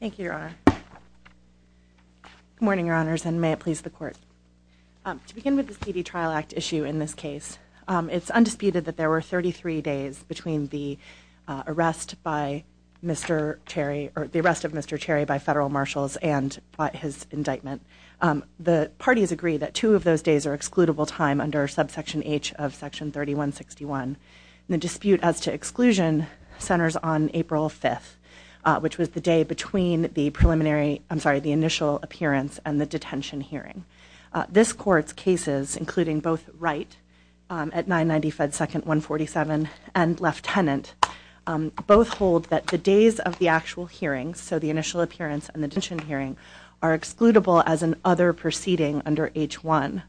Thank you, Your Honor. Good morning, Your Honors, and may it please the Court. To begin with the C.D. Trial Act issue in this case, it's undisputed that there were 33 days between the arrest by Mr. Cherry, or the arrest of Mr. Cherry by federal marshals and his indictment. The parties agree that two of those days are excludable time under subsection H of section 3161. The dispute as to exclusion centers on April 5th, which was the day between the initial appearance and the detention hearing. This Court's cases, including both Wright at 990 Fed Second 147 and Leftenant, both hold that the days of the actual hearings, so the initial appearance and the detention hearing, are excludable as an other proceeding under H1.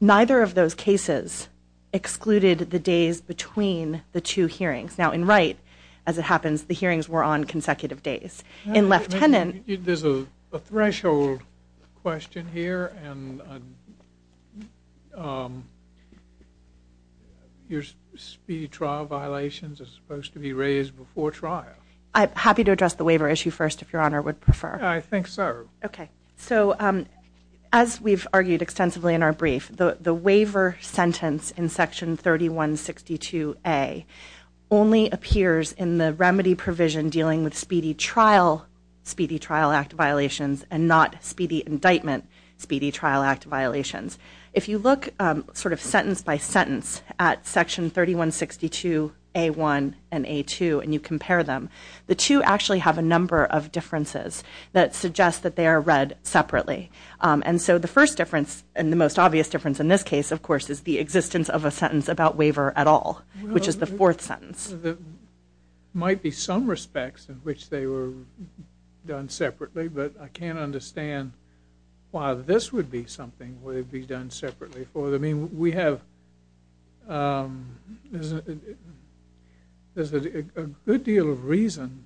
Neither of those cases excluded the days between the two hearings. Now, in Wright, as it happens, the hearings were on consecutive days. In Leftenant... There's a threshold question here, and your speedy trial violations are supposed to be raised before trial. I'm happy to address the waiver issue first, if Your Honor would prefer. I think so. Okay. So, as we've argued extensively in our brief, the waiver sentence in section 3162A only appears in the remedy provision dealing with speedy trial, speedy trial act violations, and not speedy indictment, speedy trial act violations. If you look sort of sentence by sentence at section 3162A1 and A2 and you compare them, the two actually have a number of differences that suggest that they are read separately. And so the first difference, and the most obvious difference in this case, of course, is the existence of a sentence about waiver at all, which is the fourth sentence. There might be some respects in which they were done separately, but I can't understand why this would be something that would be done separately. I mean, we have a good deal of reason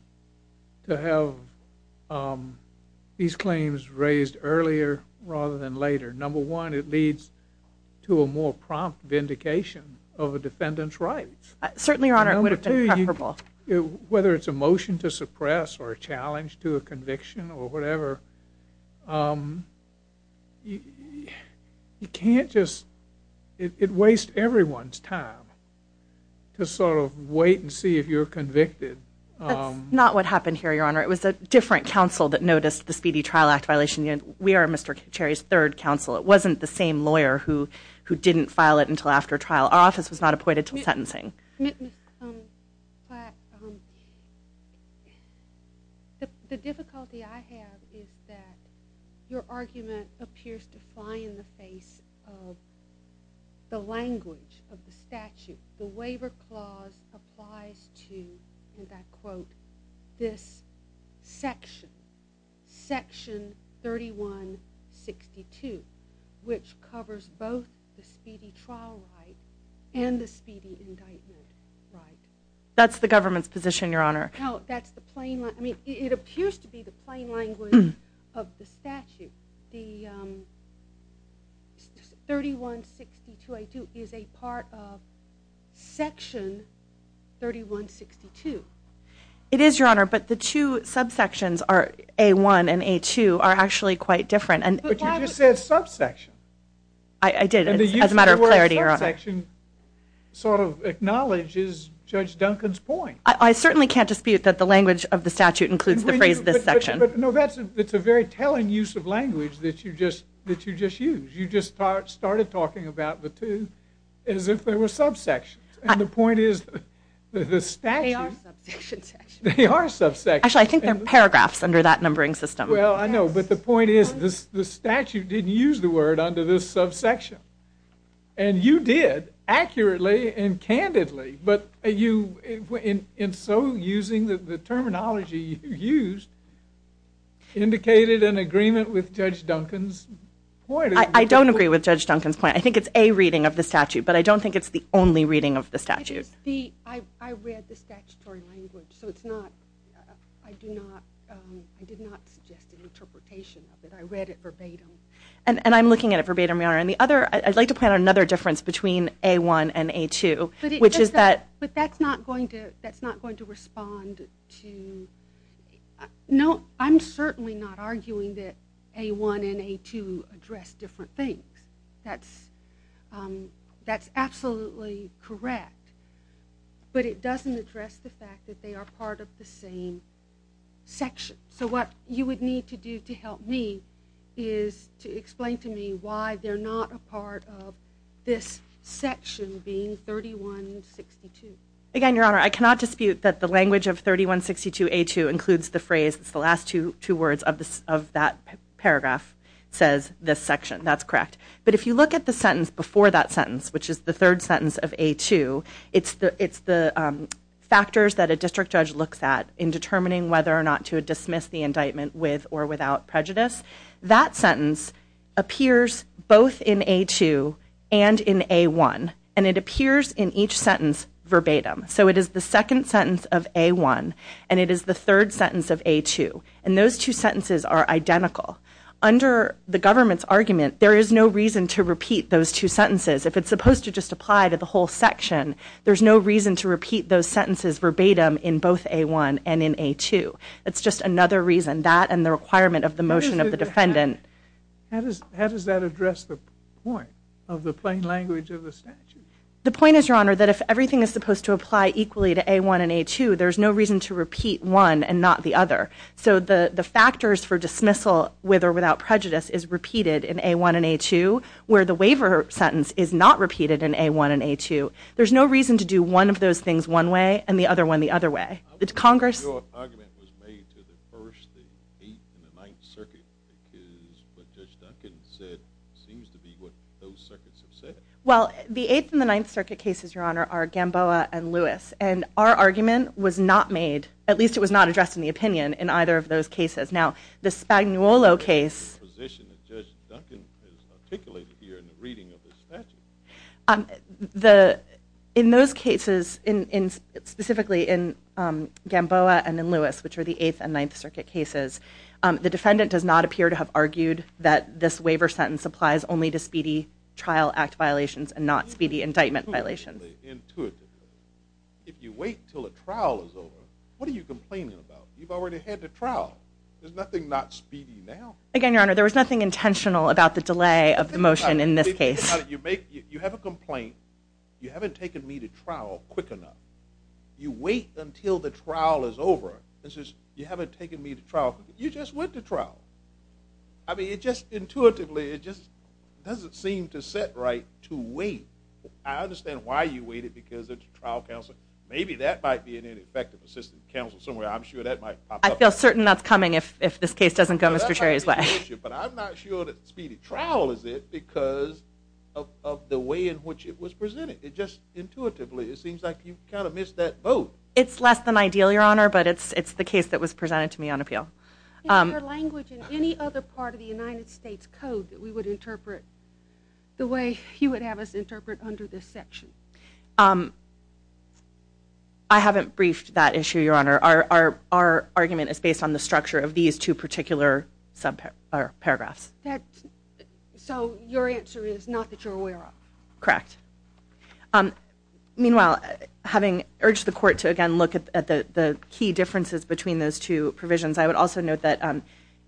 to have these claims raised earlier rather than later. Number one, it leads to a more prompt vindication of a defendant's rights. Certainly, Your Honor, it would have been preferable. Whether it's a motion to suppress or a challenge to a conviction or whatever, you can't just – it wastes everyone's time to sort of wait and see if you're convicted. That's not what happened here, Your Honor. It was a different counsel that noticed the speedy trial act violation. We are Mr. Cherry's third counsel. It wasn't the same lawyer who didn't file it until after trial. Our office was not appointed until sentencing. Ms. Platt, the difficulty I have is that your argument appears to fly in the face of the language of the statute. The waiver clause applies to, and I quote, this section, section 3162, which covers both the speedy trial right and the speedy indictment right. That's the government's position, Your Honor. No, that's the plain – I mean, it appears to be the plain language of the statute. The 3162A2 is a part of section 3162. It is, Your Honor, but the two subsections, A1 and A2, are actually quite different. But you just said subsection. I did, as a matter of clarity, Your Honor. And the use of the word subsection sort of acknowledges Judge Duncan's point. I certainly can't dispute that the language of the statute includes the phrase this section. But, no, that's a very telling use of language that you just used. You just started talking about the two as if they were subsections. And the point is the statute – They are subsection sections. They are subsections. Actually, I think they're paragraphs under that numbering system. Well, I know, but the point is the statute didn't use the word under this subsection. And you did, accurately and candidly. But you, in so using the terminology you used, indicated an agreement with Judge Duncan's point. I don't agree with Judge Duncan's point. I think it's a reading of the statute, but I don't think it's the only reading of the statute. I read the statutory language, so I did not suggest an interpretation of it. I read it verbatim. And I'm looking at it verbatim, Your Honor. I'd like to point out another difference between A1 and A2, which is that – But that's not going to respond to – No, I'm certainly not arguing that A1 and A2 address different things. That's absolutely correct. But it doesn't address the fact that they are part of the same section. So what you would need to do to help me is to explain to me why they're not a part of this section being 3162. Again, Your Honor, I cannot dispute that the language of 3162A2 includes the phrase – it's the last two words of that paragraph – says this section. That's correct. But if you look at the sentence before that sentence, which is the third sentence of A2, it's the factors that a district judge looks at in determining whether or not to dismiss the indictment with or without prejudice. That sentence appears both in A2 and in A1, and it appears in each sentence verbatim. So it is the second sentence of A1, and it is the third sentence of A2. And those two sentences are identical. Under the government's argument, there is no reason to repeat those two sentences. If it's supposed to just apply to the whole section, there's no reason to repeat those sentences verbatim in both A1 and in A2. It's just another reason, that and the requirement of the motion of the defendant. How does that address the point of the plain language of the statute? The point is, Your Honor, that if everything is supposed to apply equally to A1 and A2, there's no reason to repeat one and not the other. So the factors for dismissal with or without prejudice is repeated in A1 and A2, where the waiver sentence is not repeated in A1 and A2. There's no reason to do one of those things one way and the other one the other way. Your argument was made to the First, the Eighth, and the Ninth Circuit, because what Judge Duncan said seems to be what those circuits have said. Well, the Eighth and the Ninth Circuit cases, Your Honor, are Gamboa and Lewis. And our argument was not made, at least it was not addressed in the opinion in either of those cases. Now, the Spagnuolo case… …the position that Judge Duncan has articulated here in the reading of the statute. In those cases, specifically in Gamboa and in Lewis, which are the Eighth and Ninth Circuit cases, the defendant does not appear to have argued that this waiver sentence applies only to speedy trial act violations and not speedy indictment violations. If you wait until a trial is over, what are you complaining about? You've already had the trial. There's nothing not speedy now. Again, Your Honor, there was nothing intentional about the delay of the motion in this case. You have a complaint. You haven't taken me to trial quick enough. You wait until the trial is over. You haven't taken me to trial. You just went to trial. I mean, just intuitively, it just doesn't seem to set right to wait. I understand why you waited, because it's a trial counsel. Maybe that might be an ineffective assistant counsel somewhere. I'm sure that might pop up. I feel certain that's coming if this case doesn't go Mr. Cherry's way. But I'm not sure that speedy trial is it because of the way in which it was presented. It just intuitively, it seems like you kind of missed that boat. It's less than ideal, Your Honor, but it's the case that was presented to me on appeal. Is there language in any other part of the United States Code that we would interpret the way you would have us interpret under this section? I haven't briefed that issue, Your Honor. Our argument is based on the structure of these two particular paragraphs. So your answer is not that you're aware of? Correct. Meanwhile, having urged the court to, again, look at the key differences between those two provisions, I would also note that,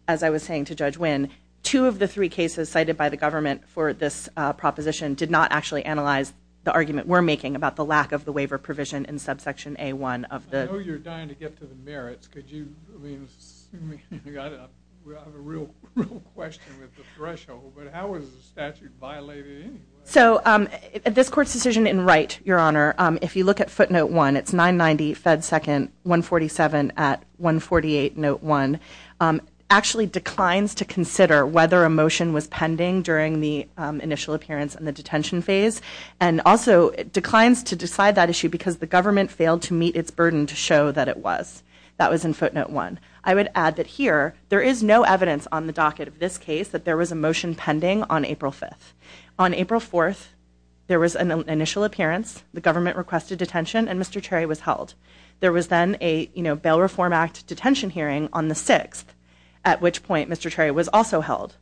as I was saying to Judge Wynn, two of the three cases cited by the government for this proposition did not actually analyze the argument we're making about the lack of the waiver provision in subsection A1 of the... I know you're dying to get to the merits. Could you, I mean, I have a real question with the threshold, but how is the statute violated anyway? So this court's decision in Wright, Your Honor, if you look at footnote 1, it's 990 Fed 2nd 147 at 148 note 1, actually declines to consider whether a motion was pending during the initial appearance and the detention phase, and also declines to decide that issue because the government failed to meet its burden to show that it was. That was in footnote 1. I would add that here there is no evidence on the docket of this case that there was a motion pending on April 5th. On April 4th, there was an initial appearance, the government requested detention, and Mr. Cherry was held. There was then a, you know, Bail Reform Act detention hearing on the 6th, at which point Mr. Cherry was also held.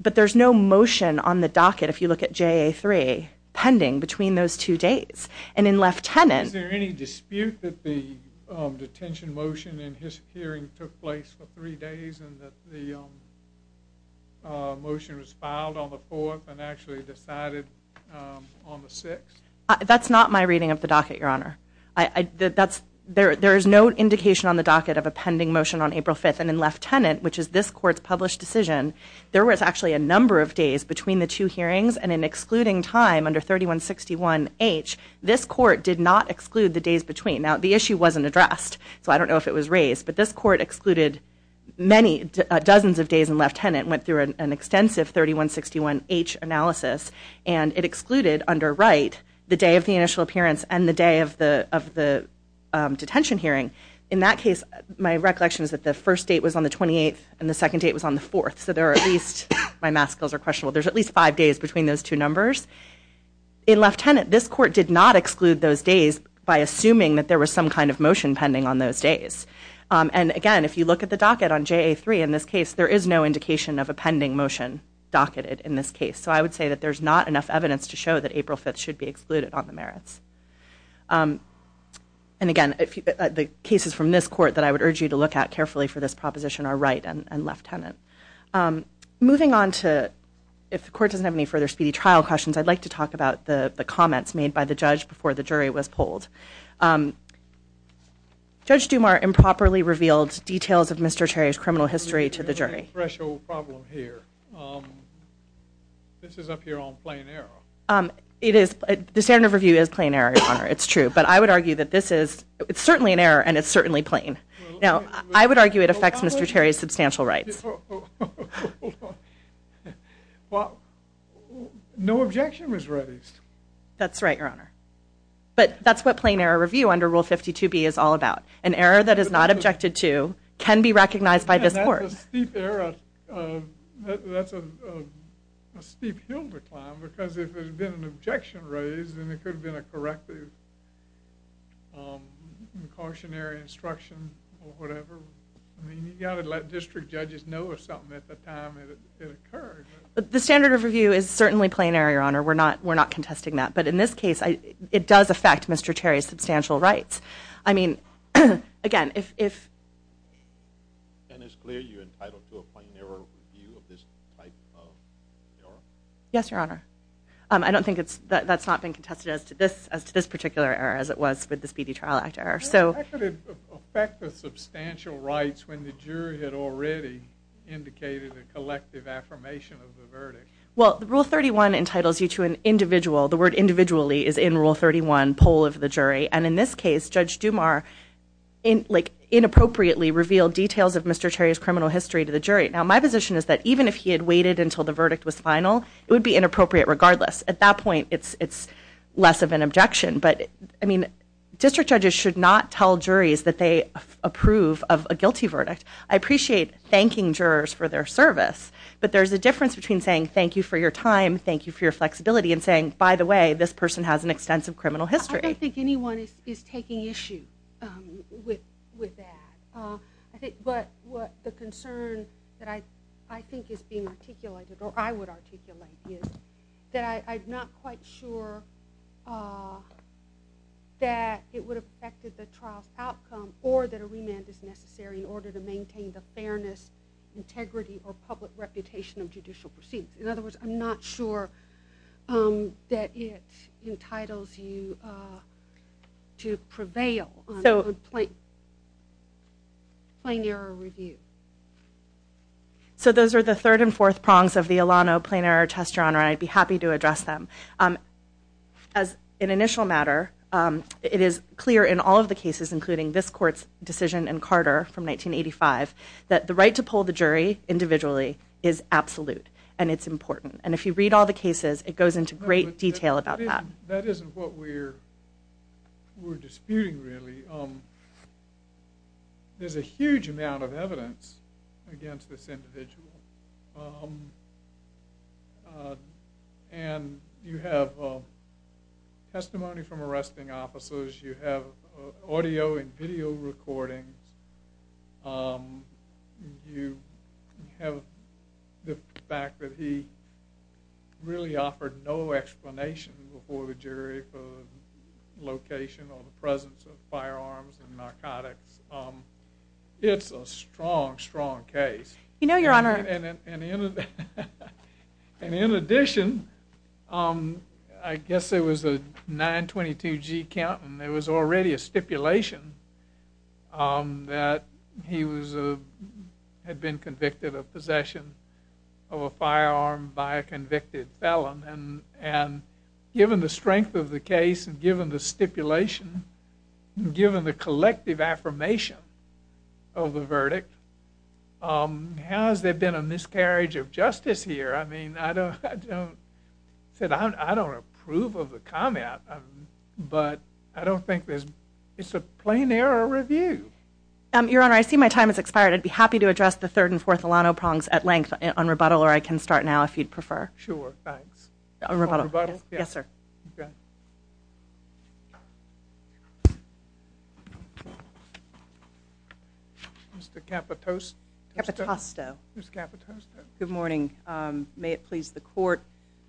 But there's no motion on the docket, if you look at JA 3, pending between those two dates. And in Lieutenant... Is there any dispute that the detention motion in his hearing took place for three days and that the motion was filed on the 4th and actually decided on the 6th? That's not my reading of the docket, Your Honor. There is no indication on the docket of a pending motion on April 5th, and in Lieutenant, which is this court's published decision, there was actually a number of days between the two hearings, and in excluding time under 3161H, this court did not exclude the days between. Now, the issue wasn't addressed, so I don't know if it was raised, but this court excluded dozens of days in Lieutenant, went through an extensive 3161H analysis, and it excluded under Wright the day of the initial appearance and the day of the detention hearing. In that case, my recollection is that the first date was on the 28th and the second date was on the 4th, so there are at least... My math skills are questionable. There's at least five days between those two numbers. In Lieutenant, this court did not exclude those days by assuming that there was some kind of motion pending on those days. And again, if you look at the docket on JA3 in this case, there is no indication of a pending motion docketed in this case, so I would say that there's not enough evidence to show that April 5th should be excluded on the merits. And again, the cases from this court that I would urge you to look at carefully for this proposition are Wright and Lieutenant. Moving on to, if the court doesn't have any further speedy trial questions, I'd like to talk about the comments made by the judge before the jury was polled. Judge Dumas improperly revealed details of Mr. Terry's criminal history to the jury. There's a big threshold problem here. This is up here on plain error. It is. The standard of review is plain error, Your Honor. It's true. But I would argue that this is... It's certainly an error and it's certainly plain. Now, I would argue it affects Mr. Terry's substantial rights. Well, no objection was raised. That's right, Your Honor. But that's what plain error review under Rule 52B is all about. An error that is not objected to can be recognized by this court. That's a steep hill to climb because if there's been an objection raised, then it could have been a corrective, cautionary instruction or whatever. I mean, you've got to let district judges know of something at the time it occurred. The standard of review is certainly plain error, Your Honor. We're not contesting that. But in this case, it does affect Mr. Terry's substantial rights. I mean, again, if... And it's clear you're entitled to a plain error review of this type of error? Yes, Your Honor. I don't think that's not been contested as to this particular error as it was with the Speedy Trial Act error. How could it affect the substantial rights when the jury had already indicated a collective affirmation of the verdict? Well, Rule 31 entitles you to an individual, the word individually is in Rule 31, poll of the jury. And in this case, Judge Dumas inappropriately revealed details of Mr. Terry's criminal history to the jury. Now, my position is that even if he had waited until the verdict was final, it would be inappropriate regardless. At that point, it's less of an objection. But, I mean, district judges should not tell juries that they approve of a guilty verdict. I appreciate thanking jurors for their service, but there's a difference between saying thank you for your time, thank you for your flexibility, and saying, by the way, this person has an extensive criminal history. I don't think anyone is taking issue with that. But the concern that I think is being articulated, or I would articulate, is that I'm not quite sure that it would have affected the trial's outcome or that a remand is necessary in order to maintain the fairness, integrity, or public reputation of judicial proceedings. In other words, I'm not sure that it entitles you to prevail on plain error review. So those are the third and fourth prongs of the Ilano plain error test genre, and I'd be happy to address them. As an initial matter, it is clear in all of the cases, including this court's decision in Carter from 1985, that the right to poll the jury individually is absolute, and it's important. And if you read all the cases, it goes into great detail about that. That isn't what we're disputing, really. There's a huge amount of evidence against this individual, and you have testimony from arresting officers, you have audio and video recordings, you have the fact that he really offered no explanation before the jury for the location or the presence of firearms and narcotics. It's a strong, strong case. You know, Your Honor. And in addition, I guess there was a 922G count, and there was already a stipulation that he had been convicted of possession of a firearm by a convicted felon. And given the strength of the case, and given the stipulation, and given the collective affirmation of the verdict, how has there been a miscarriage of justice here? I mean, I don't approve of the comment, but I don't think it's a plain error review. Your Honor, I see my time has expired. I'd be happy to address the third and fourth Ilano prongs at length on rebuttal, or I can start now if you'd prefer. Sure, thanks. On rebuttal? Yes, sir. Okay. Mr. Capitosto? Capitosto. Ms. Capitosto. Good morning. May it please the Court,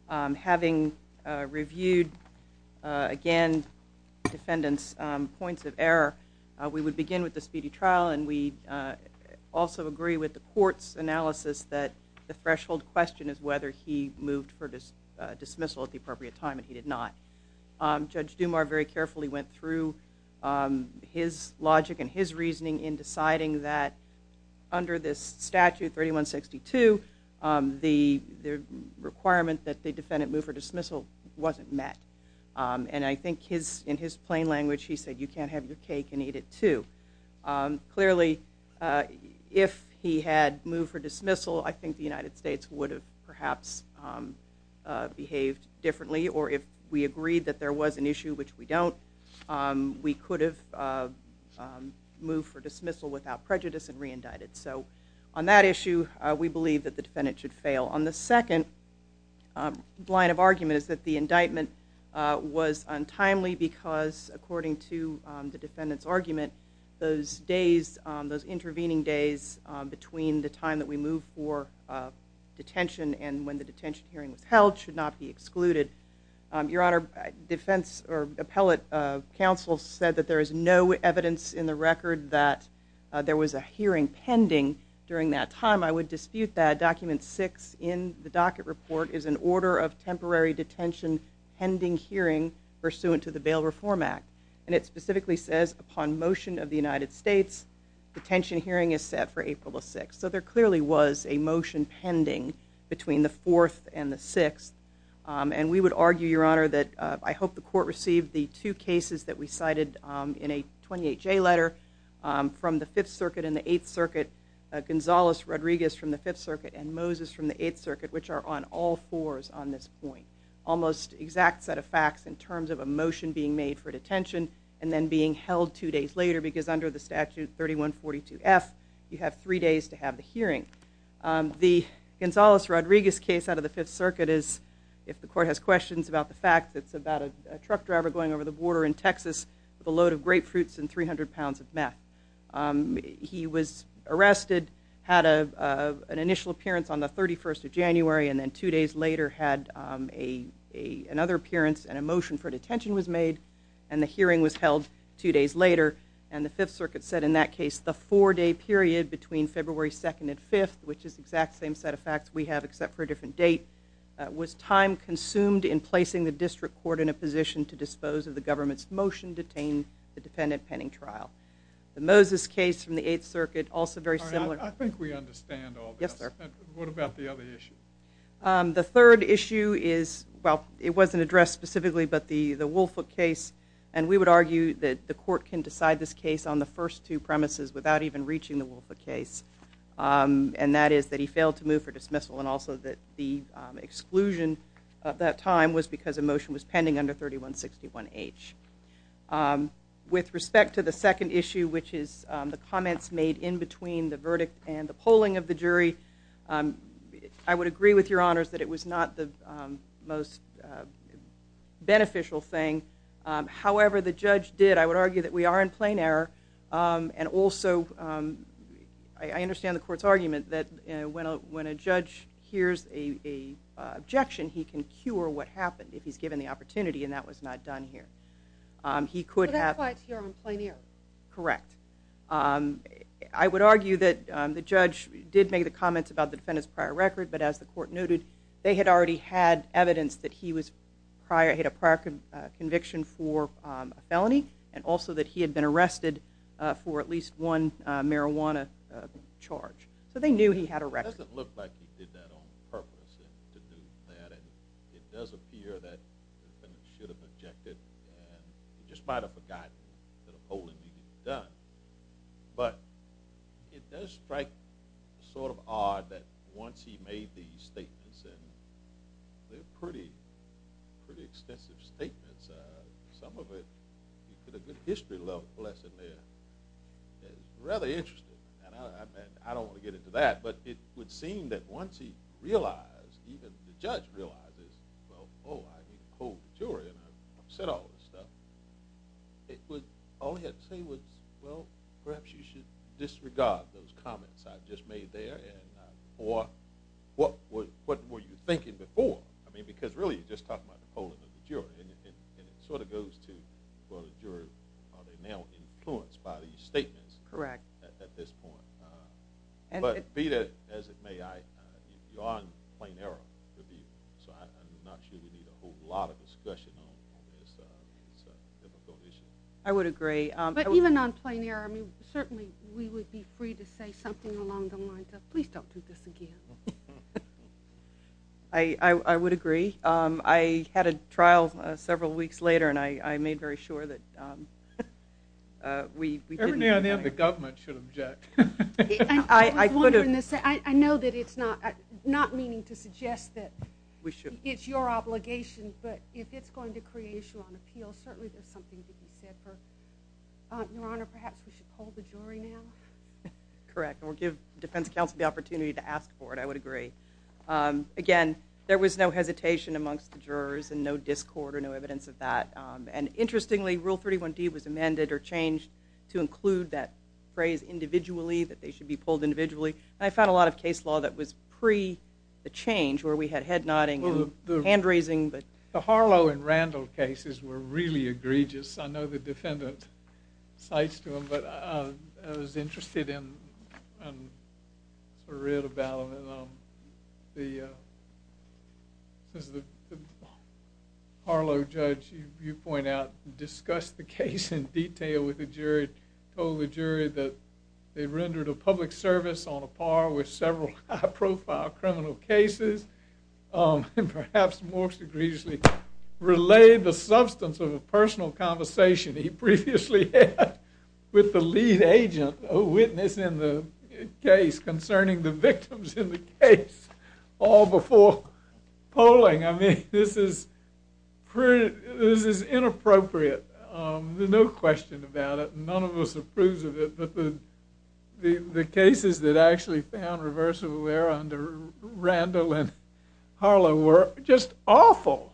having reviewed, again, the defendant's points of error, we would begin with the speedy trial, and we also agree with the Court's analysis that the threshold question is whether he moved for dismissal at the appropriate time, and he did not. Judge Dumas very carefully went through his logic and his reasoning in deciding that under this statute, 3162, the requirement that the defendant move for dismissal wasn't met. And I think in his plain language he said, you can't have your cake and eat it too. Clearly, if he had moved for dismissal, I think the United States would have perhaps behaved differently, or if we agreed that there was an issue, which we don't, we could have moved for dismissal without prejudice and re-indicted. So on that issue, we believe that the defendant should fail. On the second line of argument is that the indictment was untimely because according to the defendant's argument, those intervening days between the time that we move for detention and when the detention hearing was held should not be excluded. Your Honor, defense or appellate counsel said that there is no evidence in the record that there was a hearing pending during that time. I would dispute that. Document 6 in the docket report is an order of temporary detention pending hearing pursuant to the Bail Reform Act, and it specifically says upon motion of the United States, detention hearing is set for April the 6th. So there clearly was a motion pending between the 4th and the 6th, and we would argue, Your Honor, that I hope the court received the two cases that we cited in a 28-J letter from the 5th Circuit and the 8th Circuit, Gonzales-Rodriguez from the 5th Circuit and Moses from the 8th Circuit, which are on all fours on this point. Almost exact set of facts in terms of a motion being made for detention and then being held two days later because under the statute 3142F, you have three days to have the hearing. The Gonzales-Rodriguez case out of the 5th Circuit is, if the court has questions about the fact, it's about a truck driver going over the border in Texas with a load of grapefruits and 300 pounds of meth. He was arrested, had an initial appearance on the 31st of January, and then two days later had another appearance and a motion for detention was made, and the hearing was held two days later. And the 5th Circuit said in that case, the four-day period between February 2nd and 5th, which is the exact same set of facts we have except for a different date, was time consumed in placing the district court in a position to dispose of the government's motion to detain the defendant pending trial. The Moses case from the 8th Circuit, also very similar. I think we understand all this. Yes, sir. What about the other issue? The third issue is, well, it wasn't addressed specifically, but the Woolfoot case. And we would argue that the court can decide this case on the first two premises without even reaching the Woolfoot case, and that is that he failed to move for dismissal and also that the exclusion at that time was because a motion was pending under 3161H. With respect to the second issue, which is the comments made in between the verdict and the polling of the jury, I would agree with Your Honors that it was not the most beneficial thing. However, the judge did. I would argue that we are in plain error, and also I understand the court's argument that when a judge hears an objection, he can cure what happened if he's given the opportunity, and that was not done here. So that's why it's here in plain error? Correct. I would argue that the judge did make the comments about the defendant's prior record, but as the court noted, they had already had evidence that he had a prior conviction for a felony and also that he had been arrested for at least one marijuana charge. So they knew he had a record. It doesn't look like he did that on purpose to do that, and it does appear that the defendant should have objected and just might have forgotten that a polling meeting had been done. But it does strike sort of odd that once he made these statements, and they're pretty extensive statements. Some of it, he put a good history-level lesson there that is rather interesting, and I don't want to get into that, but it would seem that once he realized, even the judge realizes, well, oh, I didn't poll the juror and I've said all this stuff, all he had to say was, well, perhaps you should disregard those comments I've just made there or what were you thinking before? I mean, because really you're just talking about the polling of the juror, and it sort of goes to, well, the juror, are they now influenced by these statements at this point? But be that as it may, you are in plain error. So I'm not sure we need a whole lot of discussion on this difficult issue. I would agree. But even on plain error, I mean, certainly we would be free to say something along the lines of, please don't do this again. I would agree. I had a trial several weeks later, and I made very sure that we didn't. Every now and then the government should object. I know that it's not meaning to suggest that it's your obligation, but if it's going to create issue on appeal, certainly there's something to be said for it. Your Honor, perhaps we should poll the jury now? Correct. And we'll give defense counsel the opportunity to ask for it. I would agree. Again, there was no hesitation amongst the jurors and no discord or no evidence of that. And interestingly, Rule 31D was amended or changed to include that phrase individually, that they should be polled individually. And I found a lot of case law that was pre the change where we had head-nodding and hand-raising. The Harlow and Randall cases were really egregious. I know the defendant cites to them, but I was interested in a writ about them. The Harlow judge, you point out, discussed the case in detail with the jury, told the jury that they rendered a public service on a par with several high-profile criminal cases, and perhaps more egregiously, relayed the substance of a personal conversation he previously had with the lead agent, a witness in the case, concerning the victims in the case, all before polling. I mean, this is inappropriate. There's no question about it. None of us approves of it. But the cases that I actually found reversible there under Randall and Harlow were just awful.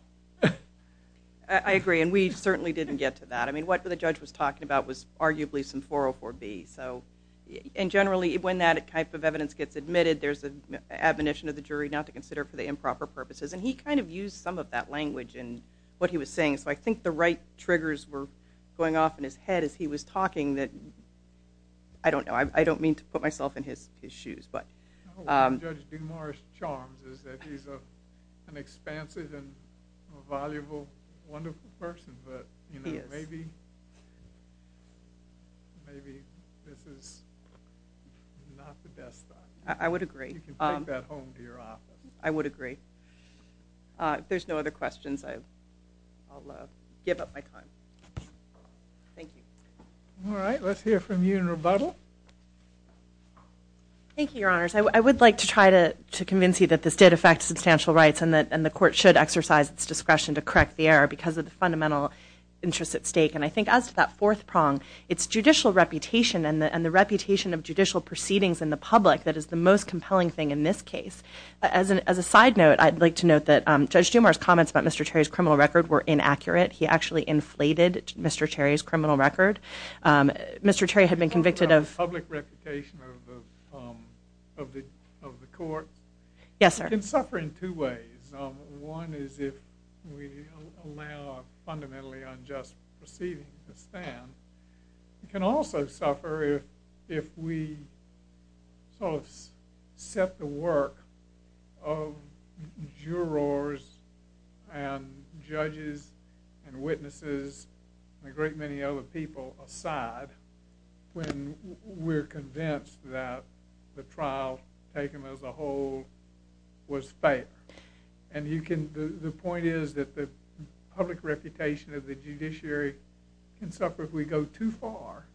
I agree, and we certainly didn't get to that. I mean, what the judge was talking about was arguably some 404B. And generally, when that type of evidence gets admitted, there's an admonition of the jury not to consider for the improper purposes. And he kind of used some of that language in what he was saying, so I think the right triggers were going off in his head as he was talking that... I don't know. I don't mean to put myself in his shoes. What will judge DeMars' charms is that he's an expansive and a valuable, wonderful person, but maybe this is not the best thought. I would agree. You can take that home to your office. I would agree. If there's no other questions, I'll give up my time. Thank you. All right, let's hear from you in rebuttal. Thank you, Your Honors. I would like to try to convince you that this did affect substantial rights and the court should exercise its discretion to correct the error because of the fundamental interests at stake. And I think as to that fourth prong, it's judicial reputation and the reputation of judicial proceedings in the public that is the most compelling thing in this case. As a side note, I'd like to note that Judge DeMars' comments about Mr. Terry's criminal record were inaccurate. He actually inflated Mr. Terry's criminal record. Mr. Terry had been convicted of... You're talking about public reputation of the court? Yes, sir. It can suffer in two ways. One is if we allow fundamentally unjust proceedings to stand. It can also suffer if we sort of set the work of jurors and judges and witnesses and a great many other people aside when we're convinced that the trial taken as a whole was fair. And the point is that the public reputation of the judiciary can suffer if we go too far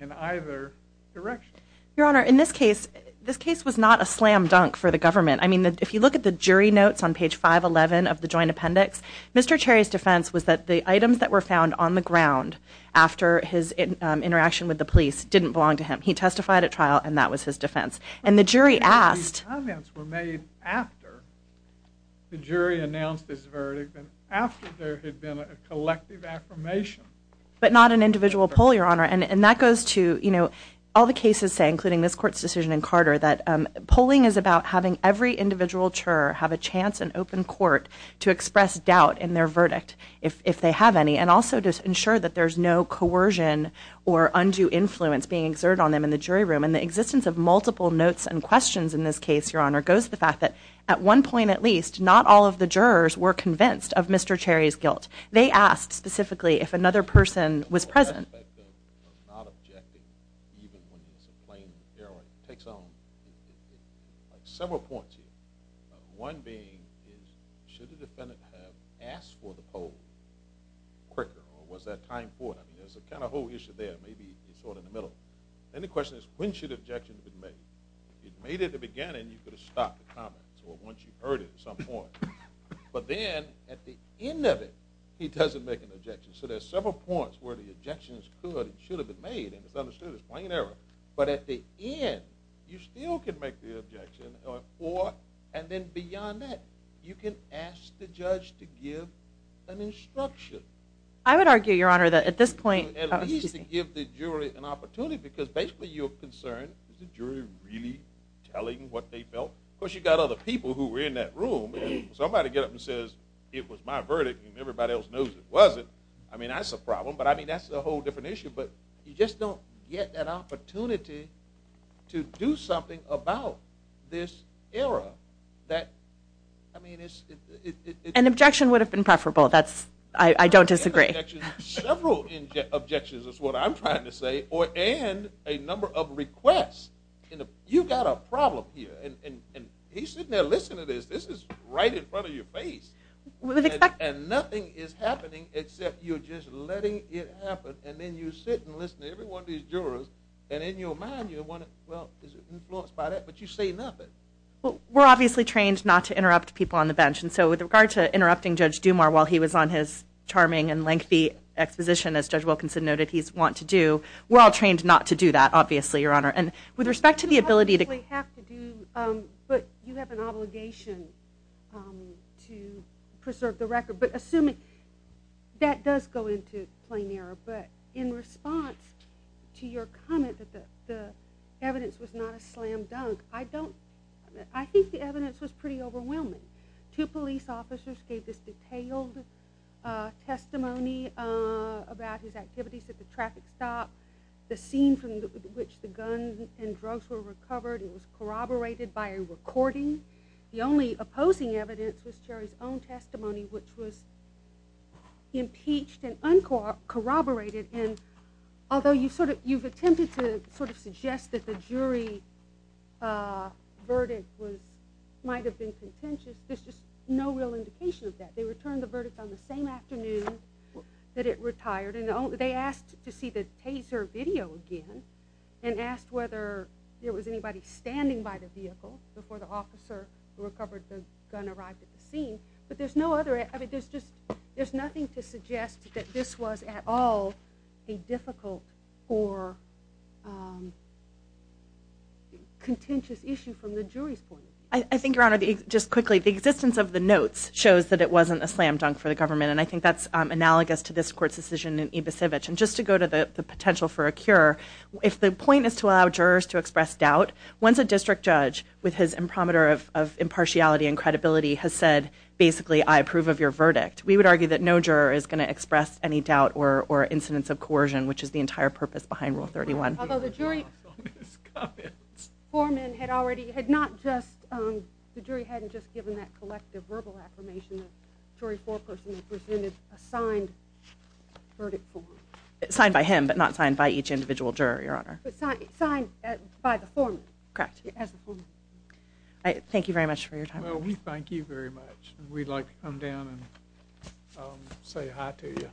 in either direction. Your Honor, in this case, this case was not a slam dunk for the government. I mean, if you look at the jury notes on page 511 of the joint appendix, Mr. Terry's defense was that the items that were found on the ground after his interaction with the police didn't belong to him. He testified at trial and that was his defense. And the jury asked... The comments were made after the jury announced his verdict after there had been a collective affirmation. But not an individual poll, Your Honor. And that goes to, you know, all the cases say, including this court's decision in Carter, that polling is about having every individual juror have a chance in open court to express doubt in their verdict if they have any, and also to ensure that there's no coercion or undue influence being exerted on them in the jury room. And the existence of multiple notes and questions in this case, Your Honor, goes to the fact that at one point at least, not all of the jurors were convinced of Mr. Terry's guilt. They asked specifically if another person was present. The aspect of not objecting, even when it's a plain error, takes on several points here. One being, should the defendant have asked for the poll quicker or was there time for it? I mean, there's a kind of whole issue there. Maybe it's sort of in the middle. Then the question is, when should objections be made? If you made it at the beginning, you could have stopped the comments. Or once you heard it at some point. But then, at the end of it, he doesn't make an objection. So there's several points where the objections could and should have been made, and it's understood as plain error. But at the end, you still can make the objection, or, and then beyond that, you can ask the judge to give an instruction. I would argue, Your Honor, that at this point... At least to give the jury an opportunity, because basically you're concerned, is the jury really telling what they felt? Of course, you've got other people who were in that room. Somebody gets up and says, it was my verdict and everybody else knows it wasn't. I mean, that's a problem. But I mean, that's a whole different issue. But you just don't get that opportunity to do something about this error. An objection would have been preferable. I don't disagree. Several objections is what I'm trying to say, and a number of requests. You've got a problem here. And he's sitting there listening to this. This is right in front of your face. And nothing is happening except you're just letting it happen, and then you sit and listen to every one of these jurors, and in your mind, you're wondering, well, is it influenced by that? But you say nothing. We're obviously trained not to interrupt people on the bench, and so with regard to interrupting Judge Dumas while he was on his charming and lengthy exposition, as Judge Wilkinson noted he's wont to do, we're all trained not to do that, obviously, Your Honor. And with respect to the ability to... But you have an obligation to preserve the record. But assuming... That does go into plain error, but in response to your comment that the evidence was not a slam dunk, I think the evidence was pretty overwhelming. Two police officers gave this detailed testimony about his activities at the traffic stop, the scene from which the guns and drugs were recovered, and it was corroborated by a recording. The only opposing evidence was Cherry's own testimony, which was impeached and uncorroborated, and although you've attempted to sort of suggest that the jury verdict might have been contentious, there's just no real indication of that. They returned the verdict on the same afternoon that it retired, and they asked to see the Taser video again and asked whether there was anybody standing by the vehicle before the officer who recovered the gun arrived at the scene. But there's no other... There's nothing to suggest that this was at all a difficult or contentious issue from the jury's point of view. I think, Your Honor, just quickly, the existence of the notes shows that it wasn't a slam dunk for the government, and I think that's analogous to this court's decision in Ibasovich. And just to go to the potential for a cure, if the point is to allow jurors to express doubt, once a district judge, with his impromptu of impartiality and credibility, has said, basically, I approve of your verdict, we would argue that no juror is going to express any doubt or incidence of coercion, which is the entire purpose behind Rule 31. Although the jury foreman had already... had not just... the jury hadn't just given that collective verbal affirmation. The jury foreperson presented a signed verdict form. Signed by him, but not signed by each individual juror, Your Honor. Signed by the foreman. Correct. As the foreman. Thank you very much for your time. Well, we thank you very much. We'd like to come down and say hi to you.